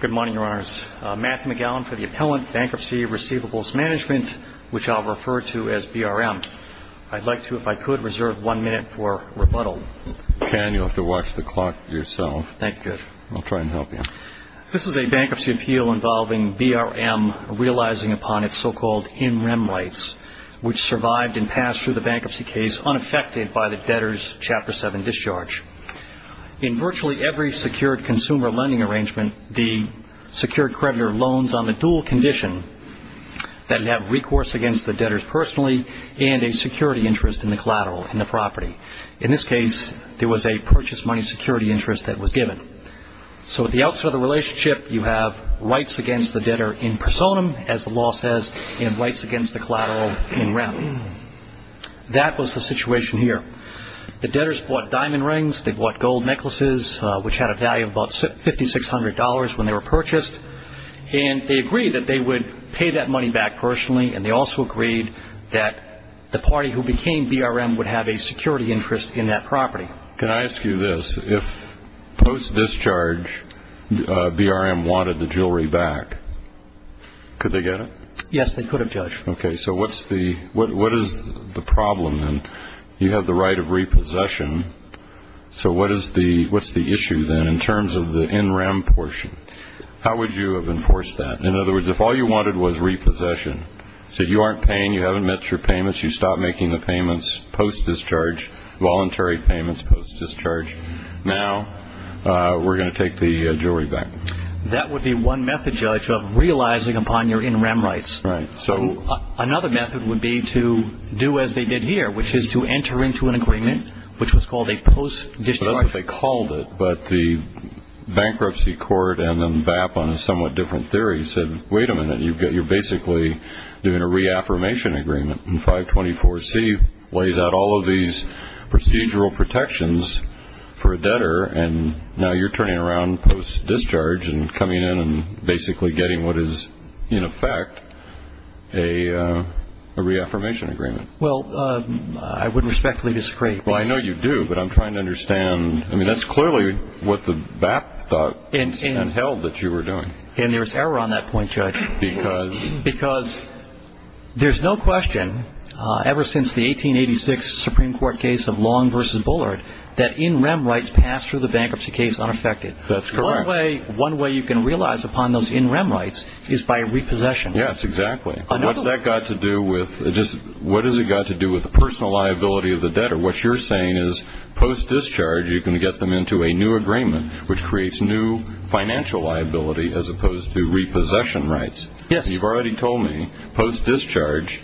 Good morning, Your Honors. Matt McGowan for the Appellant Bankruptcy Receivables Management, which I'll refer to as BRM. I'd like to, if I could, reserve one minute for rebuttal. You can. You'll have to watch the clock yourself. Thank you. I'll try and help you. This is a bankruptcy appeal involving BRM realizing upon its so-called in-rem rights, which survived and passed through the bankruptcy case unaffected by the debtor's Chapter 7 discharge. In virtually every secured consumer lending arrangement, the secured creditor loans on the dual condition that it have recourse against the debtors personally and a security interest in the collateral in the property. In this case, there was a purchase money security interest that was given. So at the outset of the relationship, you have rights against the debtor in personam, as the law says, and rights against the collateral in rem. That was the situation here. The debtors bought diamond rings. They bought gold necklaces, which had a value of about $5,600 when they were purchased. And they agreed that they would pay that money back personally, and they also agreed that the party who became BRM would have a security interest in that property. Can I ask you this? If post-discharge BRM wanted the jewelry back, could they get it? Yes, they could have, Judge. Okay. So what is the problem then? You have the right of repossession. So what is the issue then in terms of the in rem portion? How would you have enforced that? In other words, if all you wanted was repossession, so you aren't paying, you haven't met your payments, you stopped making the payments post-discharge, voluntary payments post-discharge, now we're going to take the jewelry back. That would be one method, Judge, of realizing upon your in rem rights. Right. Another method would be to do as they did here, which is to enter into an agreement, which was called a post-discharge. So that's what they called it, but the bankruptcy court and then BAP on a somewhat different theory said, wait a minute, you're basically doing a reaffirmation agreement. And 524C lays out all of these procedural protections for a debtor, and now you're turning around post-discharge and coming in and basically getting what is, in effect, a reaffirmation agreement. Well, I would respectfully disagree. Well, I know you do, but I'm trying to understand. I mean, that's clearly what the BAP thought and held that you were doing. And there was error on that point, Judge. Because? Because there's no question ever since the 1886 Supreme Court case of Long v. Bullard that in rem rights pass through the bankruptcy case unaffected. That's correct. One way you can realize upon those in rem rights is by repossession. Yes, exactly. What's that got to do with the personal liability of the debtor? What you're saying is post-discharge you can get them into a new agreement, which creates new financial liability as opposed to repossession rights. Yes. You've already told me post-discharge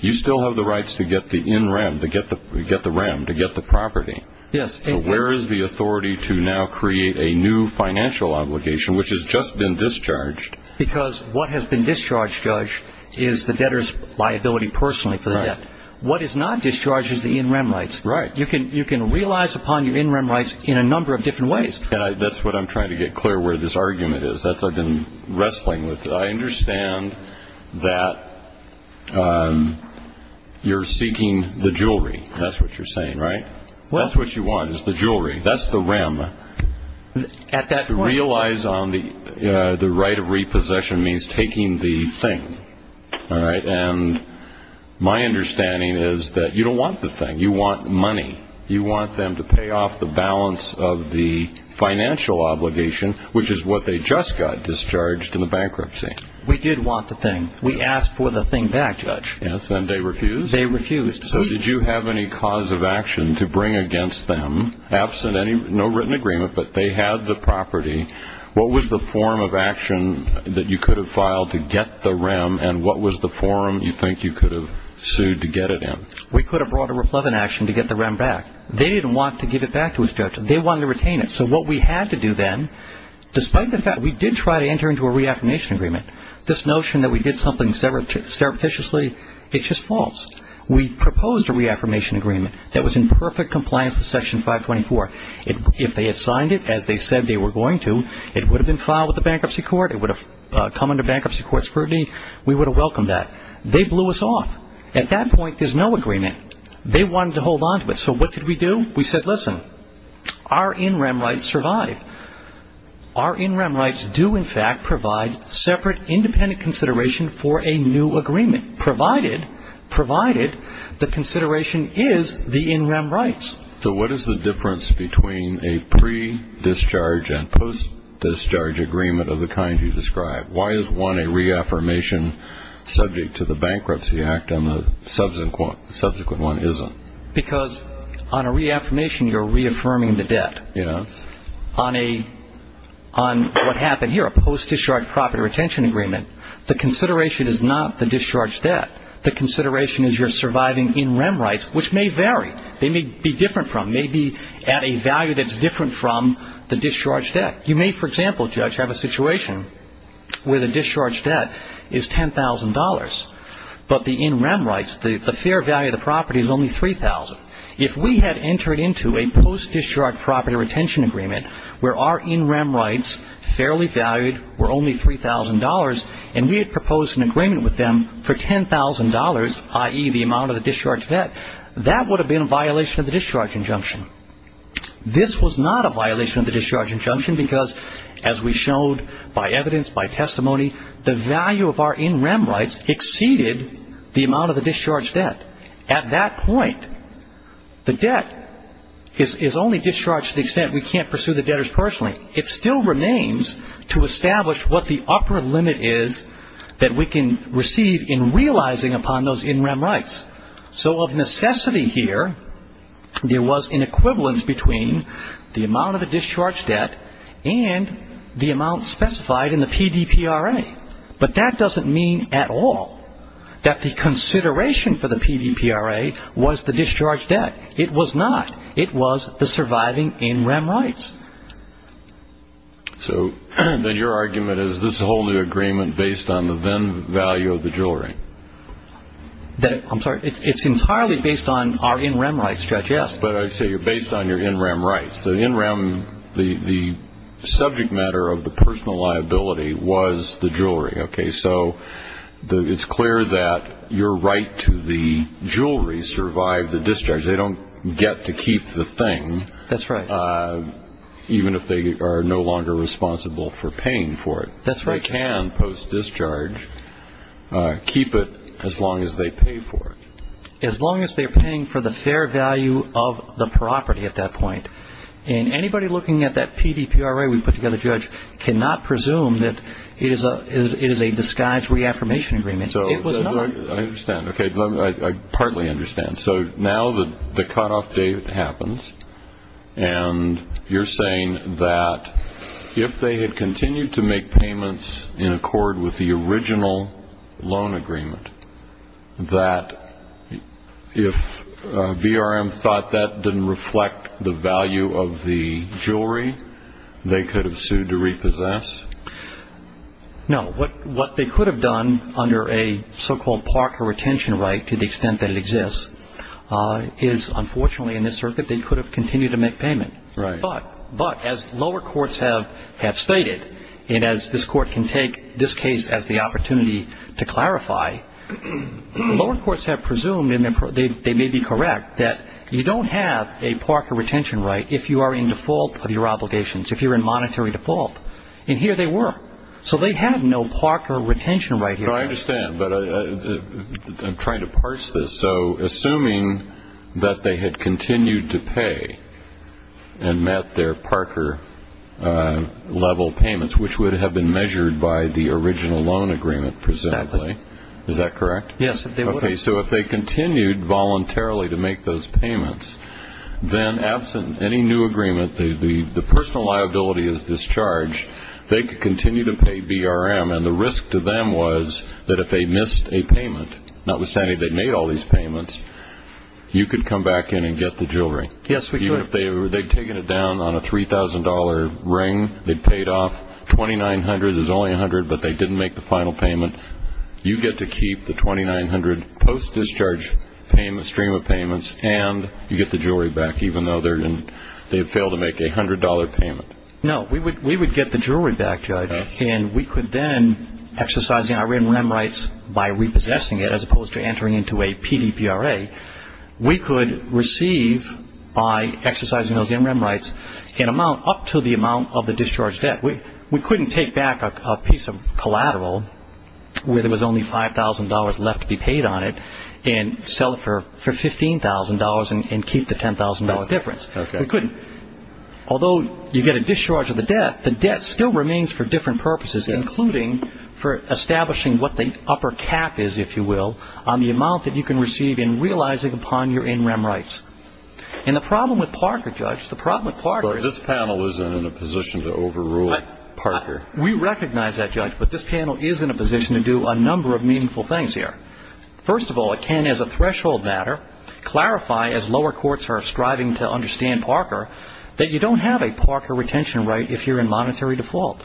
you still have the rights to get the in rem, to get the rem, to get the property. Yes. So where is the authority to now create a new financial obligation, which has just been discharged? Because what has been discharged, Judge, is the debtor's liability personally for the debt. Right. What is not discharged is the in rem rights. Right. You can realize upon your in rem rights in a number of different ways. That's what I'm trying to get clear where this argument is. That's what I've been wrestling with. I understand that you're seeking the jewelry. That's what you're saying, right? Well, that's what you want is the jewelry. That's the rem. At that point. To realize on the right of repossession means taking the thing. All right. And my understanding is that you don't want the thing. You want money. You want them to pay off the balance of the financial obligation, which is what they just got discharged in the bankruptcy. We did want the thing. We asked for the thing back, Judge. Yes. And they refused? They refused. So did you have any cause of action to bring against them? Absent no written agreement, but they had the property. What was the form of action that you could have filed to get the rem, and what was the form you think you could have sued to get it in? We could have brought a replevant action to get the rem back. They didn't want to give it back to us, Judge. They wanted to retain it. So what we had to do then, despite the fact we did try to enter into a reaffirmation agreement, this notion that we did something surreptitiously, it's just false. We proposed a reaffirmation agreement that was in perfect compliance with Section 524. If they had signed it as they said they were going to, it would have been filed with the bankruptcy court. It would have come under bankruptcy court scrutiny. We would have welcomed that. They blew us off. At that point, there's no agreement. They wanted to hold on to it. So what did we do? We said, listen, our in-rem rights survive. Our in-rem rights do, in fact, provide separate independent consideration for a new agreement, provided the consideration is the in-rem rights. So what is the difference between a pre-discharge and post-discharge agreement of the kind you described? Why is one a reaffirmation subject to the Bankruptcy Act and the subsequent one isn't? Because on a reaffirmation, you're reaffirming the debt. Yes. On what happened here, a post-discharge property retention agreement, the consideration is not the discharge debt. The consideration is you're surviving in-rem rights, which may vary. They may be different from, may be at a value that's different from the discharge debt. You may, for example, Judge, have a situation where the discharge debt is $10,000, but the in-rem rights, the fair value of the property is only $3,000. If we had entered into a post-discharge property retention agreement where our in-rem rights, fairly valued, were only $3,000 and we had proposed an agreement with them for $10,000, i.e., the amount of the discharge debt, that would have been a violation of the discharge injunction. This was not a violation of the discharge injunction because, as we showed by evidence, by testimony, the value of our in-rem rights exceeded the amount of the discharge debt. At that point, the debt is only discharged to the extent we can't pursue the debtors personally. It still remains to establish what the upper limit is that we can receive in realizing upon those in-rem rights. So of necessity here, there was an equivalence between the amount of the discharge debt and the amount specified in the PDPRA. But that doesn't mean at all that the consideration for the PDPRA was the discharge debt. It was not. It was the surviving in-rem rights. So then your argument is this whole new agreement based on the then value of the jewelry? I'm sorry. It's entirely based on our in-rem rights, Judge, yes. But I say you're based on your in-rem rights. So in-rem, the subject matter of the personal liability was the jewelry, okay? So it's clear that your right to the jewelry survived the discharge. They don't get to keep the thing. That's right. Even if they are no longer responsible for paying for it. That's right. They can post-discharge keep it as long as they pay for it. As long as they're paying for the fair value of the property at that point. And anybody looking at that PDPRA we put together, Judge, cannot presume that it is a disguised reaffirmation agreement. It was not. I understand. I partly understand. So now the cutoff date happens. And you're saying that if they had continued to make payments in accord with the original loan agreement, that if BRM thought that didn't reflect the value of the jewelry, they could have sued to repossess? No. What they could have done under a so-called Parker retention right, to the extent that it exists, is unfortunately in this circuit they could have continued to make payment. Right. But as lower courts have stated, and as this court can take this case as the opportunity to clarify, lower courts have presumed, and they may be correct, that you don't have a Parker retention right if you are in default of your obligations, if you're in monetary default. And here they were. So they had no Parker retention right here. I understand. But I'm trying to parse this. So assuming that they had continued to pay and met their Parker-level payments, which would have been measured by the original loan agreement, presumably, is that correct? Yes. Okay. So if they continued voluntarily to make those payments, then absent any new agreement, the personal liability is discharged, they could continue to pay BRM. And the risk to them was that if they missed a payment, notwithstanding they made all these payments, you could come back in and get the jewelry. Yes, we could. Even if they had taken it down on a $3,000 ring, they paid off 2,900. There's only 100, but they didn't make the final payment. You get to keep the 2,900 post-discharge stream of payments, and you get the jewelry back even though they failed to make a $100 payment. No, we would get the jewelry back, Judge, and we could then exercise the MRM rights by repossessing it as opposed to entering into a PDPRA. We could receive, by exercising those MRM rights, an amount up to the amount of the discharged debt. We couldn't take back a piece of collateral where there was only $5,000 left to be paid on it and sell it for $15,000 and keep the $10,000 difference. We couldn't. Although you get a discharge of the debt, the debt still remains for different purposes, including for establishing what the upper cap is, if you will, on the amount that you can receive in realizing upon your NRM rights. And the problem with Parker, Judge, the problem with Parker is... But this panel isn't in a position to overrule Parker. We recognize that, Judge, but this panel is in a position to do a number of meaningful things here. First of all, it can, as a threshold matter, clarify, as lower courts are striving to understand Parker, that you don't have a Parker retention right if you're in monetary default.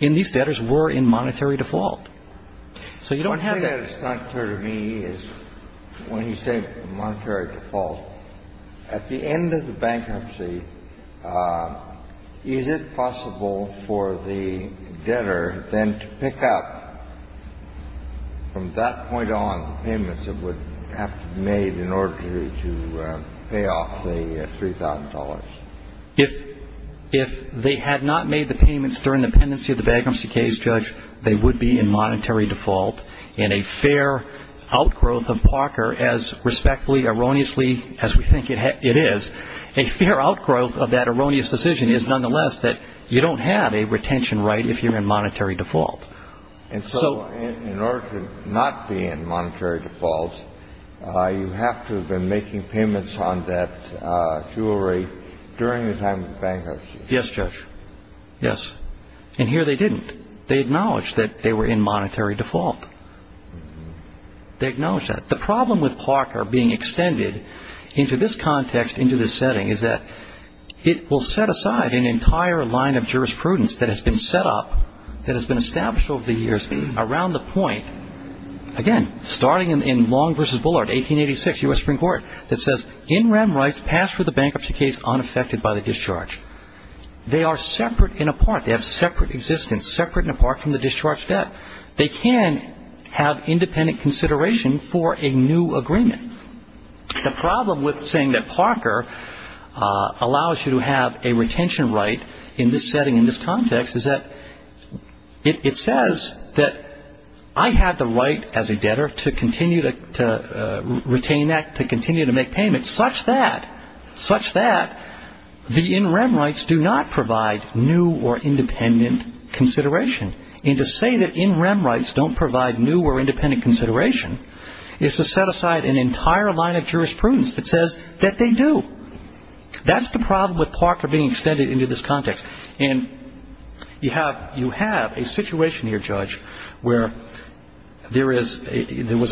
And these debtors were in monetary default. So you don't have... One thing that is not clear to me is when you say monetary default, at the end of the bankruptcy, is it possible for the debtor then to pick up, from that point on, the payments that would have to be made in order to pay off the $3,000? If they had not made the payments during the pendency of the bankruptcy case, Judge, they would be in monetary default. And a fair outgrowth of Parker, as respectfully, erroneously as we think it is, a fair outgrowth of that erroneous decision is, nonetheless, that you don't have a retention right if you're in monetary default. And so in order to not be in monetary default, you have to have been making payments on that jewelry during the time of bankruptcy. Yes, Judge. Yes. And here they didn't. They acknowledged that they were in monetary default. They acknowledged that. The problem with Parker being extended into this context, into this setting, is that it will set aside an entire line of jurisprudence that has been set up, that has been established over the years, around the point, again, starting in Long v. Bullard, 1886, U.S. Supreme Court, that says, In rem rights pass for the bankruptcy case unaffected by the discharge. They are separate and apart. They have separate existence, separate and apart from the discharge debt. They can have independent consideration for a new agreement. The problem with saying that Parker allows you to have a retention right in this setting, in this context, is that it says that I have the right as a debtor to continue to retain that, to continue to make payments such that the in rem rights do not provide new or independent consideration. And to say that in rem rights don't provide new or independent consideration is to set aside an entire line of jurisprudence that says that they do. That's the problem with Parker being extended into this context. And you have a situation here, Judge, where there was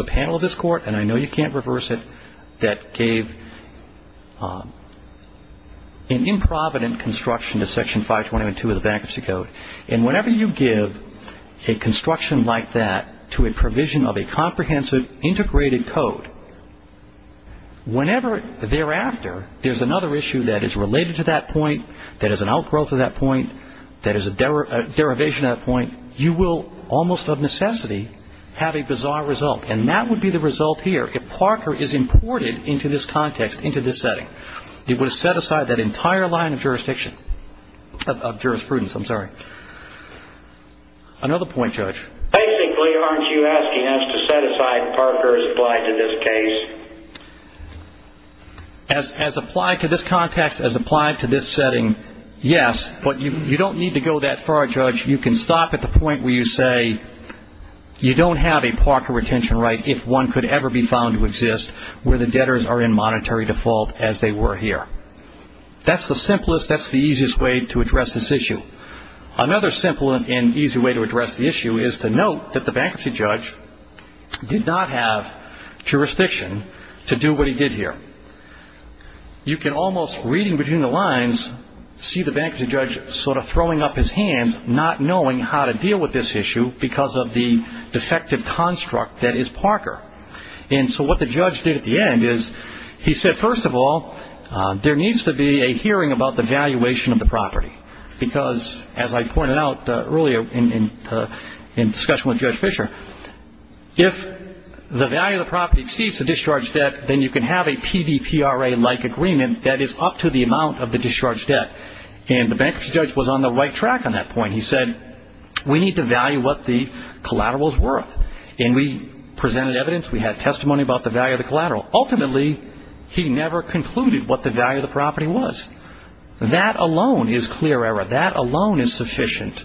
a panel of this Court, and I know you can't reverse it, that gave an improvident construction to Section 522 of the Bankruptcy Code. And whenever you give a construction like that to a provision of a comprehensive integrated code, whenever thereafter there's another issue that is related to that point, that is an outgrowth of that point, that is a derivation of that point, you will almost of necessity have a bizarre result. And that would be the result here if Parker is imported into this context, into this setting. It would set aside that entire line of jurisprudence. Another point, Judge? Basically, aren't you asking us to set aside Parker as applied to this case? As applied to this context, as applied to this setting, yes. But you don't need to go that far, Judge. You can stop at the point where you say you don't have a Parker retention right, if one could ever be found to exist where the debtors are in monetary default as they were here. That's the simplest, that's the easiest way to address this issue. Another simple and easy way to address the issue is to note that the bankruptcy judge did not have jurisdiction to do what he did here. You can almost, reading between the lines, see the bankruptcy judge sort of throwing up his hands, not knowing how to deal with this issue because of the defective construct that is Parker. And so what the judge did at the end is he said, first of all, there needs to be a hearing about the valuation of the property. Because, as I pointed out earlier in discussion with Judge Fisher, if the value of the property exceeds the discharge debt, then you can have a PDPRA-like agreement that is up to the amount of the discharge debt. And the bankruptcy judge was on the right track on that point. He said, we need to value what the collateral is worth. And we presented evidence, we had testimony about the value of the collateral. Ultimately, he never concluded what the value of the property was. That alone is clear error. That alone is sufficient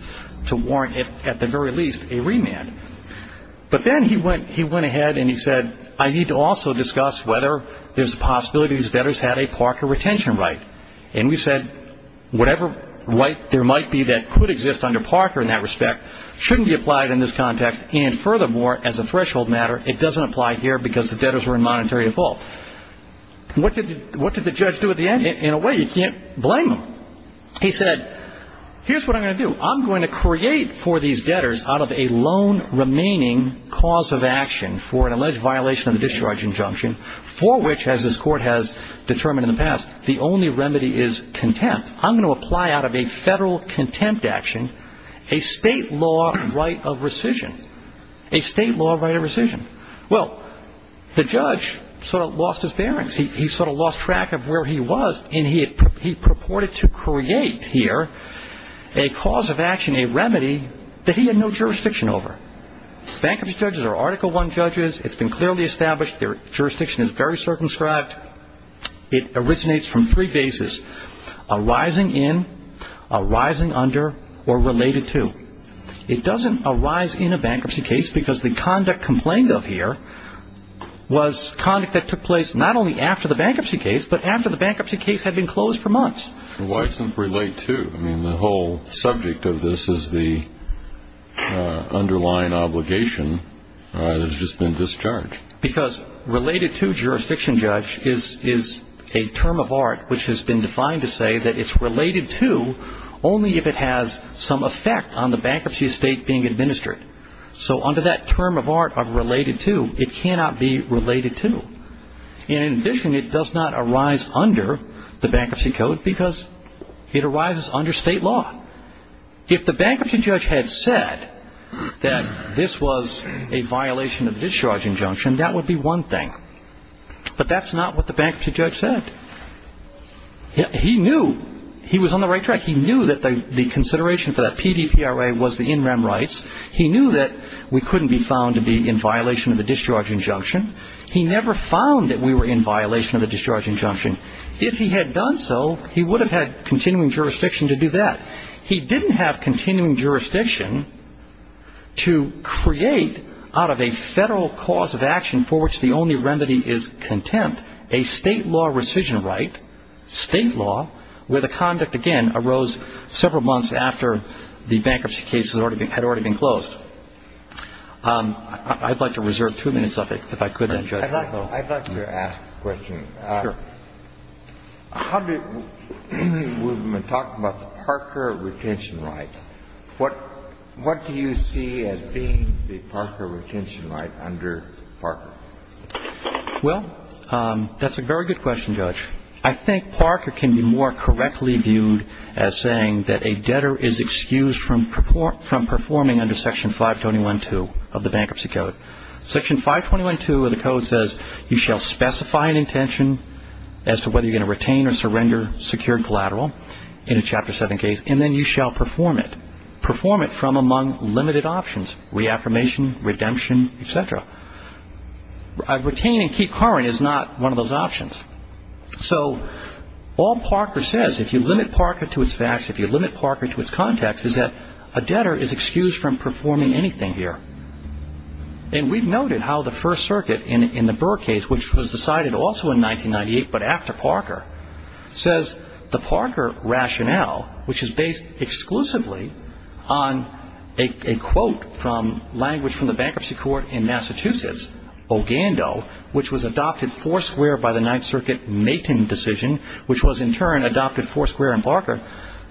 to warrant, at the very least, a remand. But then he went ahead and he said, I need to also discuss whether there's a possibility these debtors had a Parker retention right. And we said, whatever right there might be that could exist under Parker in that respect shouldn't be applied in this context. And furthermore, as a threshold matter, it doesn't apply here because the debtors were in monetary default. What did the judge do at the end? In a way, you can't blame him. He said, here's what I'm going to do. I'm going to create for these debtors out of a loan remaining cause of action for an alleged violation of the discharge injunction, for which, as this court has determined in the past, the only remedy is contempt. I'm going to apply out of a federal contempt action a state law right of rescission, a state law right of rescission. Well, the judge sort of lost his bearings. He sort of lost track of where he was, and he purported to create here a cause of action, a remedy that he had no jurisdiction over. Bankruptcy judges are Article I judges. It's been clearly established. Their jurisdiction is very circumscribed. It originates from three bases, arising in, arising under, or related to. It doesn't arise in a bankruptcy case because the conduct complained of here was conduct that took place not only after the bankruptcy case, but after the bankruptcy case had been closed for months. Why simply relate to? I mean, the whole subject of this is the underlying obligation that has just been discharged. Because related to jurisdiction, Judge, is a term of art which has been defined to say that it's related to only if it has some effect on the bankruptcy estate being administered. So under that term of art of related to, it cannot be related to. And in addition, it does not arise under the Bankruptcy Code because it arises under state law. If the bankruptcy judge had said that this was a violation of the discharge injunction, that would be one thing. But that's not what the bankruptcy judge said. He knew he was on the right track. He knew that the consideration for that PDPRA was the in rem rights. He knew that we couldn't be found to be in violation of the discharge injunction. He never found that we were in violation of the discharge injunction. If he had done so, he would have had continuing jurisdiction to do that. He didn't have continuing jurisdiction to create out of a federal cause of action for which the only remedy is contempt, a state law rescission right, state law, where the conduct, again, arose several months after the bankruptcy case had already been closed. I'd like to reserve two minutes of it, if I could, then, Judge. I'd like to ask a question. Sure. How do we talk about the Parker retention right? What do you see as being the Parker retention right under Parker? Well, that's a very good question, Judge. I think Parker can be more correctly viewed as saying that a debtor is excused from performing under Section 521.2 of the Bankruptcy Code. Section 521.2 of the Code says you shall specify an intention as to whether you're going to retain or surrender secured collateral in a Chapter 7 case, and then you shall perform it. Perform it from among limited options, reaffirmation, redemption, et cetera. A retain and keep current is not one of those options. So all Parker says, if you limit Parker to its facts, if you limit Parker to its context, is that a debtor is excused from performing anything here. And we've noted how the First Circuit in the Burr case, which was decided also in 1998 but after Parker, says the Parker rationale, which is based exclusively on a quote from language from the Bankruptcy Court in Massachusetts, Ogando, which was adopted foursquare by the Ninth Circuit, Maitin decision, which was in turn adopted foursquare in Parker,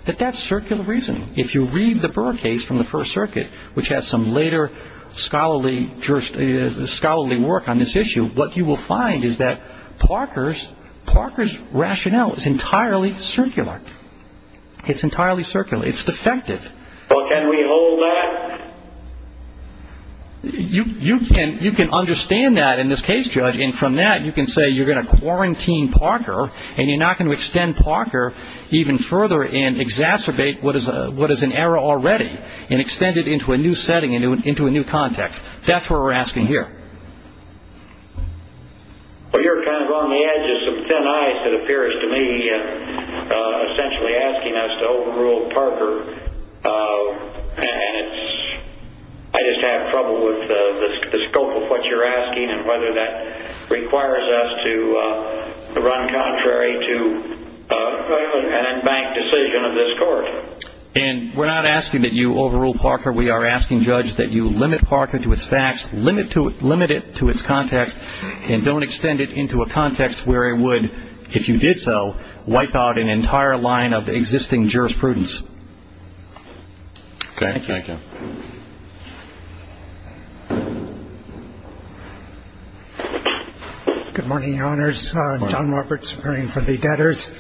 that that's circular reasoning. If you read the Burr case from the First Circuit, which has some later scholarly work on this issue, what you will find is that Parker's rationale is entirely circular. It's entirely circular. It's defective. Well, can we hold that? You can understand that in this case, Judge, and from that you can say you're going to quarantine Parker and you're not going to extend Parker even further and exacerbate what is an error already and extend it into a new setting, into a new context. That's what we're asking here. Well, you're kind of on the edge of some thin ice, it appears to me, essentially asking us to overrule Parker. And I just have trouble with the scope of what you're asking and whether that requires us to run contrary to an unbanked decision of this Court. And we're not asking that you overrule Parker. We are asking, Judge, that you limit Parker to its facts, limit it to its context, and don't extend it into a context where it would, if you did so, wipe out an entire line of existing jurisprudence. Okay. Thank you. Thank you. Good morning, Your Honors. John Roberts, appearing for the debtors.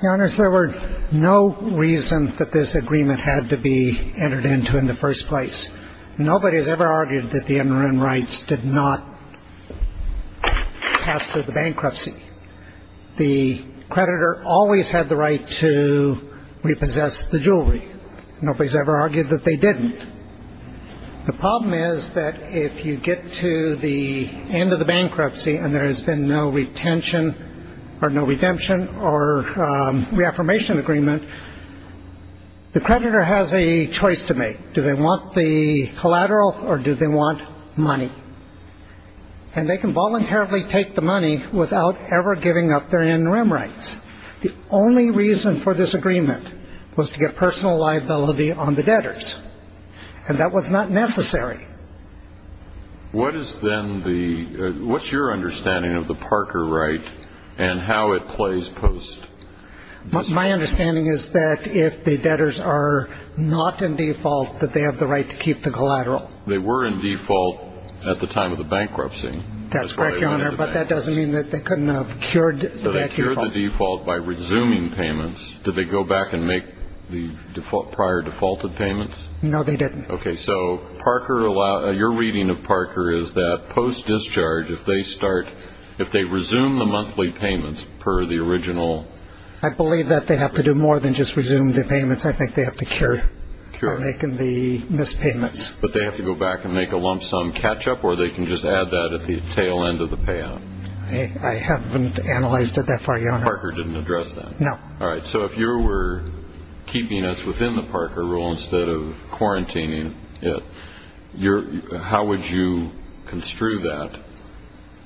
Your Honors, there were no reason that this agreement had to be entered into in the first place. Nobody has ever argued that the immigrant rights did not pass through the bankruptcy. The creditor always had the right to repossess the jewelry. Nobody has ever argued that they didn't. The problem is that if you get to the end of the bankruptcy and there has been no retention or no redemption or reaffirmation agreement, the creditor has a choice to make. Do they want the collateral or do they want money? And they can voluntarily take the money without ever giving up their interim rights. The only reason for this agreement was to get personal liability on the debtors, and that was not necessary. What is then the ñ what's your understanding of the Parker right and how it plays post? My understanding is that if the debtors are not in default, that they have the right to keep the collateral. They were in default at the time of the bankruptcy. That's correct, Your Honor, but that doesn't mean that they couldn't have cured that default. They cured the default by resuming payments. Did they go back and make the prior defaulted payments? No, they didn't. Okay, so your reading of Parker is that post-discharge, if they resume the monthly payments per the original ñ I believe that they have to do more than just resume the payments. I think they have to cure for making the missed payments. But they have to go back and make a lump sum catch-up, or they can just add that at the tail end of the payout? I haven't analyzed it that far, Your Honor. Parker didn't address that? No. All right, so if you were keeping us within the Parker rule instead of quarantining it, how would you construe that?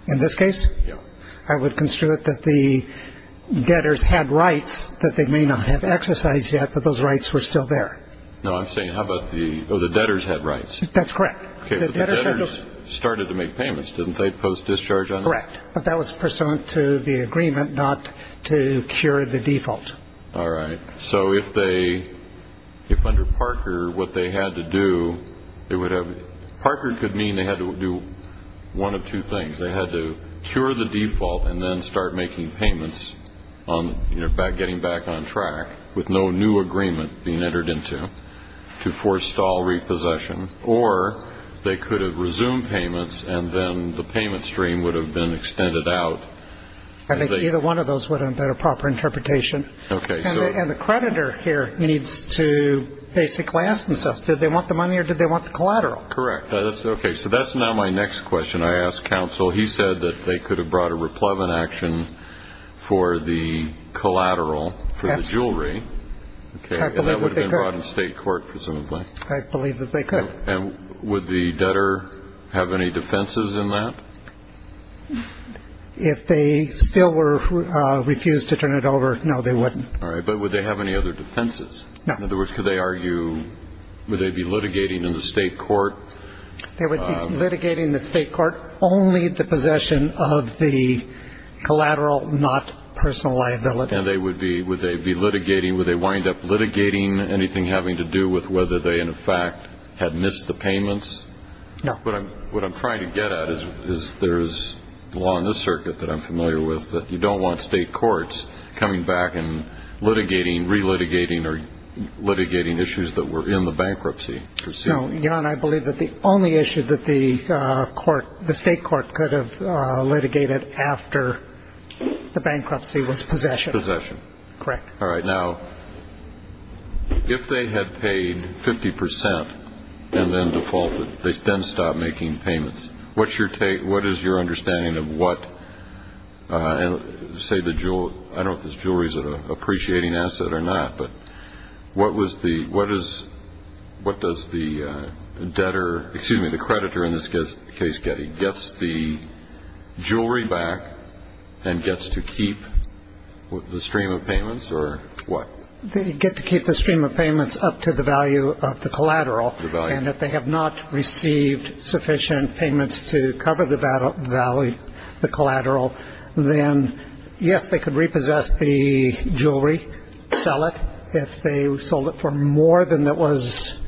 In this case? Yeah. I would construe it that the debtors had rights that they may not have exercised yet, but those rights were still there. No, I'm saying how about the ñ oh, the debtors had rights. That's correct. Okay, but the debtors started to make payments, didn't they, post-discharge on it? Correct. But that was pursuant to the agreement not to cure the default. All right. So if under Parker what they had to do, it would have ñ Parker could mean they had to do one of two things. They had to cure the default and then start making payments, getting back on track, with no new agreement being entered into to forestall repossession. Or they could have resumed payments and then the payment stream would have been extended out. I think either one of those would have been a proper interpretation. Okay. And the creditor here needs to basically ask themselves, did they want the money or did they want the collateral? Correct. Okay, so that's now my next question. I asked counsel. He said that they could have brought a replevant action for the collateral for the jewelry. Absolutely. And that would have been brought in state court, presumably. I believe that they could. And would the debtor have any defenses in that? If they still refused to turn it over, no, they wouldn't. All right. But would they have any other defenses? No. In other words, could they argue ñ would they be litigating in the state court? They would be litigating in the state court only the possession of the collateral, not personal liability. And they would be ñ would they be litigating ñ would they wind up litigating anything having to do with whether they, in effect, had missed the payments? No. What I'm trying to get at is there's a law in this circuit that I'm familiar with that you don't want state courts coming back and litigating, relitigating, or litigating issues that were in the bankruptcy proceeding. No. Jan, I believe that the only issue that the court ñ the state court could have litigated after the bankruptcy was possession. Possession. Correct. All right. Now, if they had paid 50 percent and then defaulted, they then stopped making payments. What's your ñ what is your understanding of what, say, the ñ I don't know if this jewelry is an appreciating asset or not, but what was the ñ what is ñ what does the debtor ñ excuse me, the creditor in this case get? He gets the jewelry back and gets to keep the stream of payments, or what? They get to keep the stream of payments up to the value of the collateral. The value. And if they have not received sufficient payments to cover the collateral, then, yes, they could repossess the jewelry, sell it. If they sold it for more than it was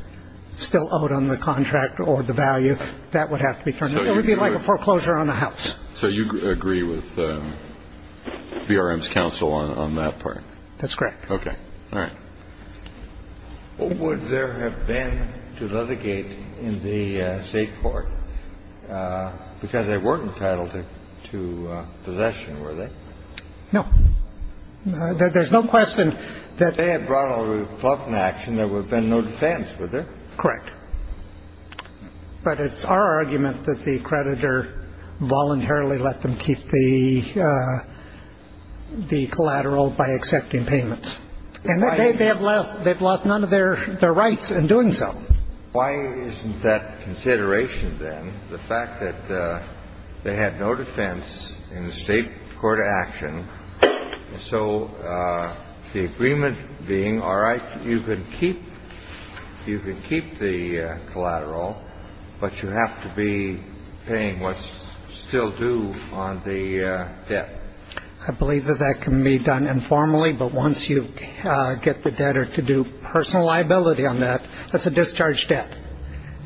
still owed on the contract or the value, that would have to be turned over. It would be like a foreclosure on the house. So you agree with BRM's counsel on that part? That's correct. Okay. All right. Would there have been to litigate in the state court? Because they weren't entitled to possession, were they? No. There's no question that ñ If they had brought a reluctant action, there would have been no defense, would there? Correct. But it's our argument that the creditor voluntarily let them keep the collateral by accepting payments. And they've lost none of their rights in doing so. Why isn't that consideration, then, the fact that they had no defense in the state court action, so the agreement being, all right, you can keep the collateral, but you have to be paying what's still due on the debt? I believe that that can be done informally. But once you get the debtor to do personal liability on that, that's a discharge debt.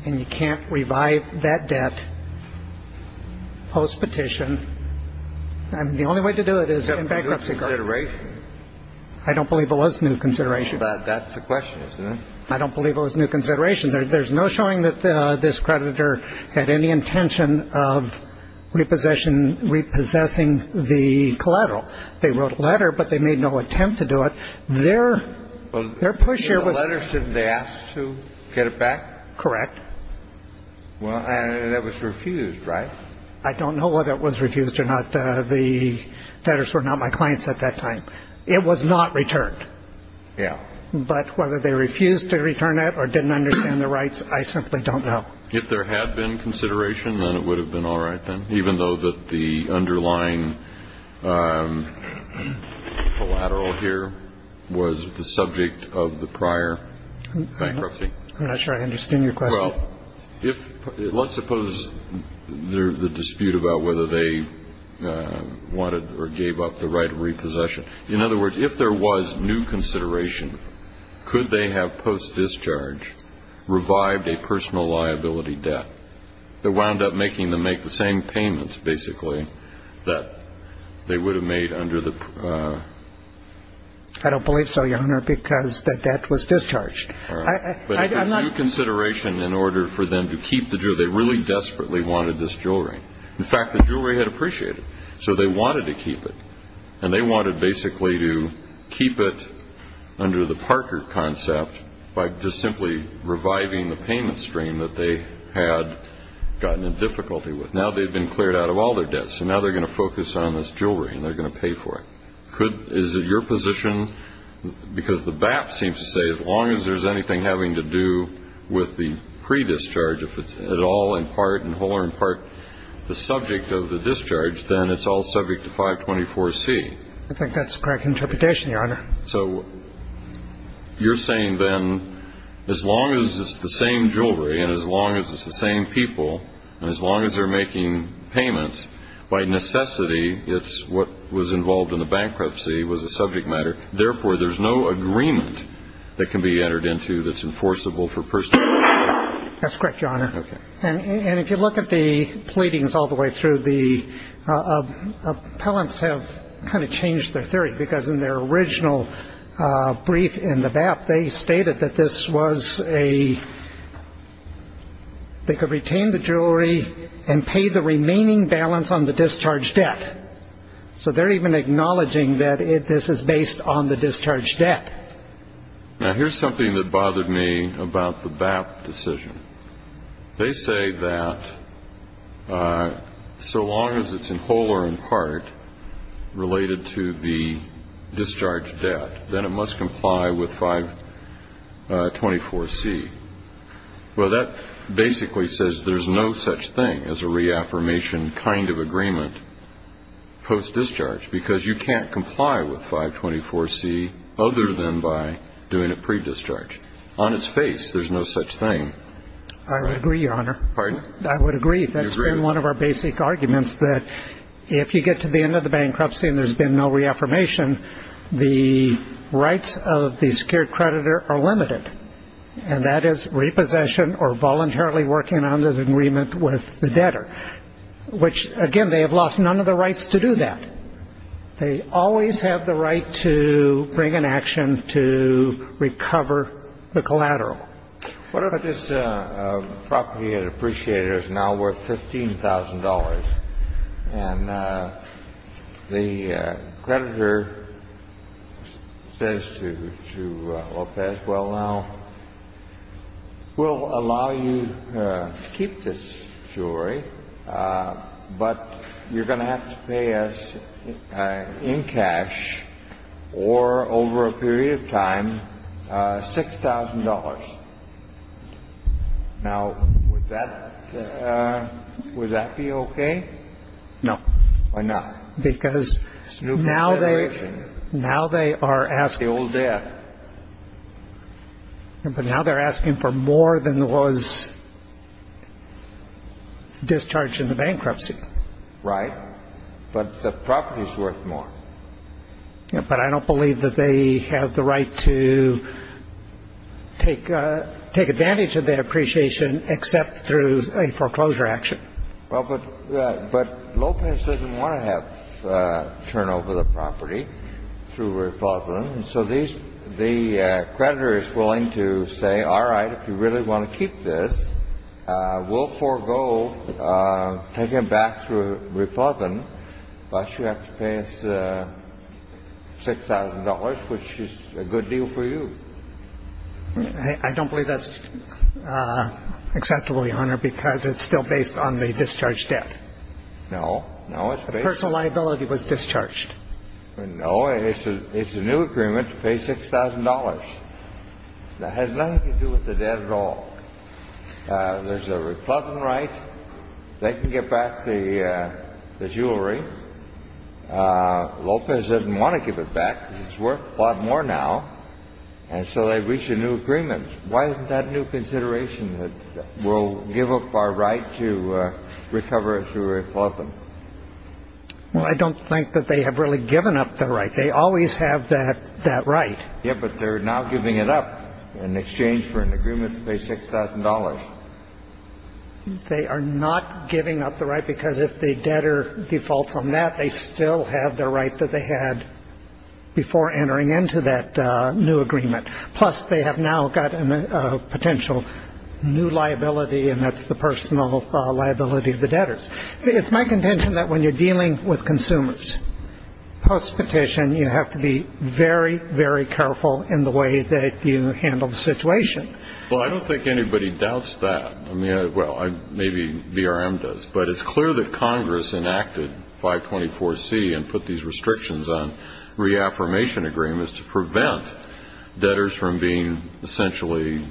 And you can't revive that debt post-petition. I mean, the only way to do it is in bankruptcy court. Is that a new consideration? I don't believe it was a new consideration. That's the question, isn't it? I don't believe it was a new consideration. There's no showing that this creditor had any intention of repossession, repossessing the collateral. They wrote a letter, but they made no attempt to do it. Their push here was to get it back. Correct. Well, that was refused, right? I don't know whether it was refused or not. The debtors were not my clients at that time. It was not returned. Yeah. But whether they refused to return it or didn't understand the rights, I simply don't know. If there had been consideration, then it would have been all right then, even though the underlying collateral here was the subject of the prior bankruptcy. I'm not sure I understand your question. Well, let's suppose the dispute about whether they wanted or gave up the right of repossession. In other words, if there was new consideration, could they have post-discharge revived a personal liability debt that wound up making them make the same payments, basically, that they would have made under the ---- I don't believe so, Your Honor, because the debt was discharged. All right. But if there's new consideration in order for them to keep the jewelry, they really desperately wanted this jewelry. In fact, the jewelry had appreciated it, so they wanted to keep it. And they wanted basically to keep it under the Parker concept by just simply reviving the payment stream that they had gotten in difficulty with. Now they've been cleared out of all their debts, so now they're going to focus on this jewelry and they're going to pay for it. Is it your position, because the BAP seems to say as long as there's anything having to do with the pre-discharge, if it's at all in part and whole or in part the subject of the discharge, then it's all subject to 524C? I think that's the correct interpretation, Your Honor. So you're saying then as long as it's the same jewelry and as long as it's the same people and as long as they're making payments, by necessity, it's what was involved in the bankruptcy was a subject matter. Therefore, there's no agreement that can be entered into that's enforceable for personal liability. That's correct, Your Honor. And if you look at the pleadings all the way through, the appellants have kind of changed their theory because in their original brief in the BAP, they stated that they could retain the jewelry and pay the remaining balance on the discharge debt. So they're even acknowledging that this is based on the discharge debt. Now, here's something that bothered me about the BAP decision. They say that so long as it's in whole or in part related to the discharge debt, then it must comply with 524C. Well, that basically says there's no such thing as a reaffirmation kind of agreement post-discharge because you can't comply with 524C other than by doing it pre-discharge. On its face, there's no such thing. I would agree, Your Honor. Pardon? I would agree. That's been one of our basic arguments that if you get to the end of the bankruptcy and there's been no reaffirmation, the rights of the secured creditor are limited, and that is repossession or voluntarily working on the agreement with the debtor, which, again, they have lost none of the rights to do that. They always have the right to bring an action to recover the collateral. What if this property had appreciated is now worth $15,000, and the creditor says to Lopez, Well, now, we'll allow you to keep this jewelry, but you're going to have to pay us in cash or over a period of time $6,000. Now, would that be okay? No. Why not? Because now they are asking for more than was discharged in the bankruptcy. Right. But the property is worth more. But I don't believe that they have the right to take advantage of that appreciation except through a foreclosure action. But Lopez doesn't want to have turnover of the property through Republican, so the creditor is willing to say, All right, if you really want to keep this, we'll forego taking it back through Republican, but you have to pay us $6,000, which is a good deal for you. I don't believe that's acceptable, Your Honor, because it's still based on the discharged debt. No. The personal liability was discharged. No, it's a new agreement to pay $6,000. That has nothing to do with the debt at all. There's a Republican right. They can get back the jewelry. Lopez didn't want to give it back because it's worth a lot more now, and so they reached a new agreement. Why isn't that a new consideration that we'll give up our right to recover it through Republican? Well, I don't think that they have really given up their right. They always have that right. Yeah, but they're now giving it up in exchange for an agreement to pay $6,000. They are not giving up the right because if the debtor defaults on that, they still have the right that they had before entering into that new agreement. Plus, they have now got a potential new liability, and that's the personal liability of the debtors. It's my contention that when you're dealing with consumers, post-petition, then you have to be very, very careful in the way that you handle the situation. Well, I don't think anybody doubts that. Well, maybe BRM does, but it's clear that Congress enacted 524C and put these restrictions on reaffirmation agreements to prevent debtors from being essentially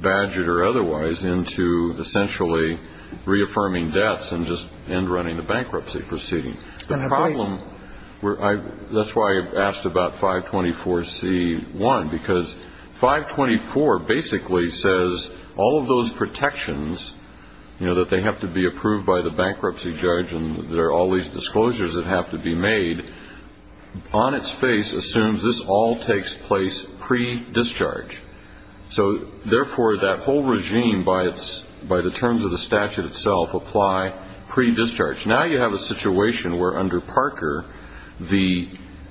badgered or otherwise into essentially reaffirming debts and just end running the bankruptcy proceeding. That's why I asked about 524C-1, because 524 basically says all of those protections, that they have to be approved by the bankruptcy judge and there are all these disclosures that have to be made, on its face assumes this all takes place pre-discharge. So, therefore, that whole regime by the terms of the statute itself apply pre-discharge. Now you have a situation where, under Parker, the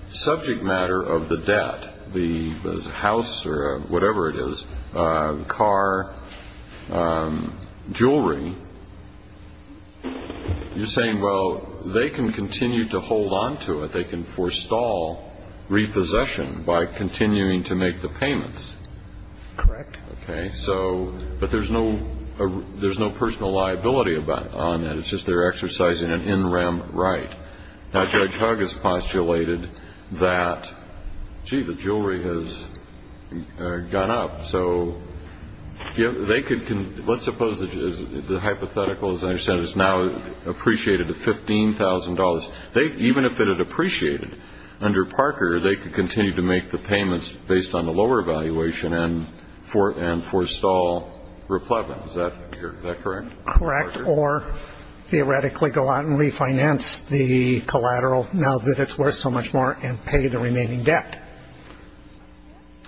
subject matter of the debt, the house or whatever it is, car, jewelry, you're saying, well, they can continue to hold on to it. They can forestall repossession by continuing to make the payments. Correct. Okay. But there's no personal liability on that. It's just they're exercising an in rem right. Now, Judge Hugg has postulated that, gee, the jewelry has gone up. So they could, let's suppose the hypothetical, as I understand it, is now appreciated at $15,000. Even if it had appreciated under Parker, they could continue to make the payments based on the lower evaluation and forestall replevant. Is that correct? Correct. Or theoretically go out and refinance the collateral now that it's worth so much more and pay the remaining debt.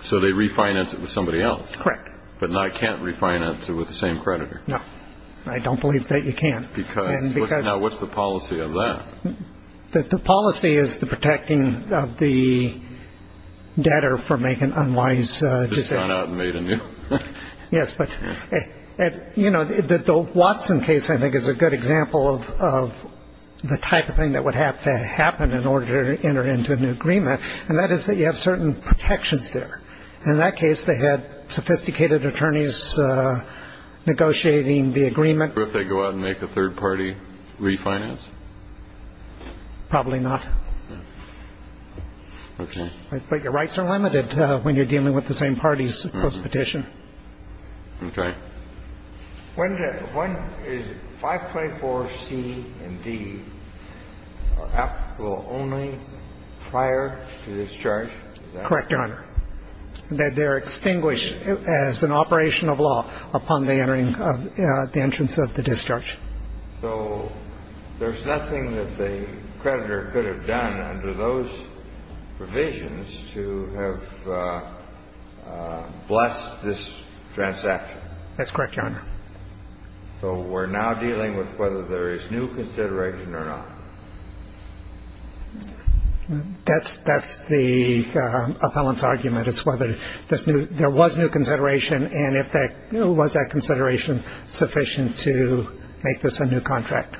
So they refinance it with somebody else. Correct. But now I can't refinance it with the same creditor. No. I don't believe that you can. Because now what's the policy of that? The policy is the protecting of the debtor from making unwise decisions. Just gone out and made a new. Yes. But, you know, the Watson case, I think, is a good example of the type of thing that would have to happen in order to enter into an agreement. And that is that you have certain protections there. In that case, they had sophisticated attorneys negotiating the agreement. Or if they go out and make a third party refinance? Probably not. Okay. But your rights are limited when you're dealing with the same parties postpetition. Okay. When is 524C and D applicable only prior to discharge? Correct, Your Honor. They're extinguished as an operation of law upon the entering of the entrance of the discharge. So there's nothing that the creditor could have done under those provisions to have blessed this transaction? That's correct, Your Honor. So we're now dealing with whether there is new consideration or not? That's the appellant's argument, is whether there was new consideration. And was that consideration sufficient to make this a new contract?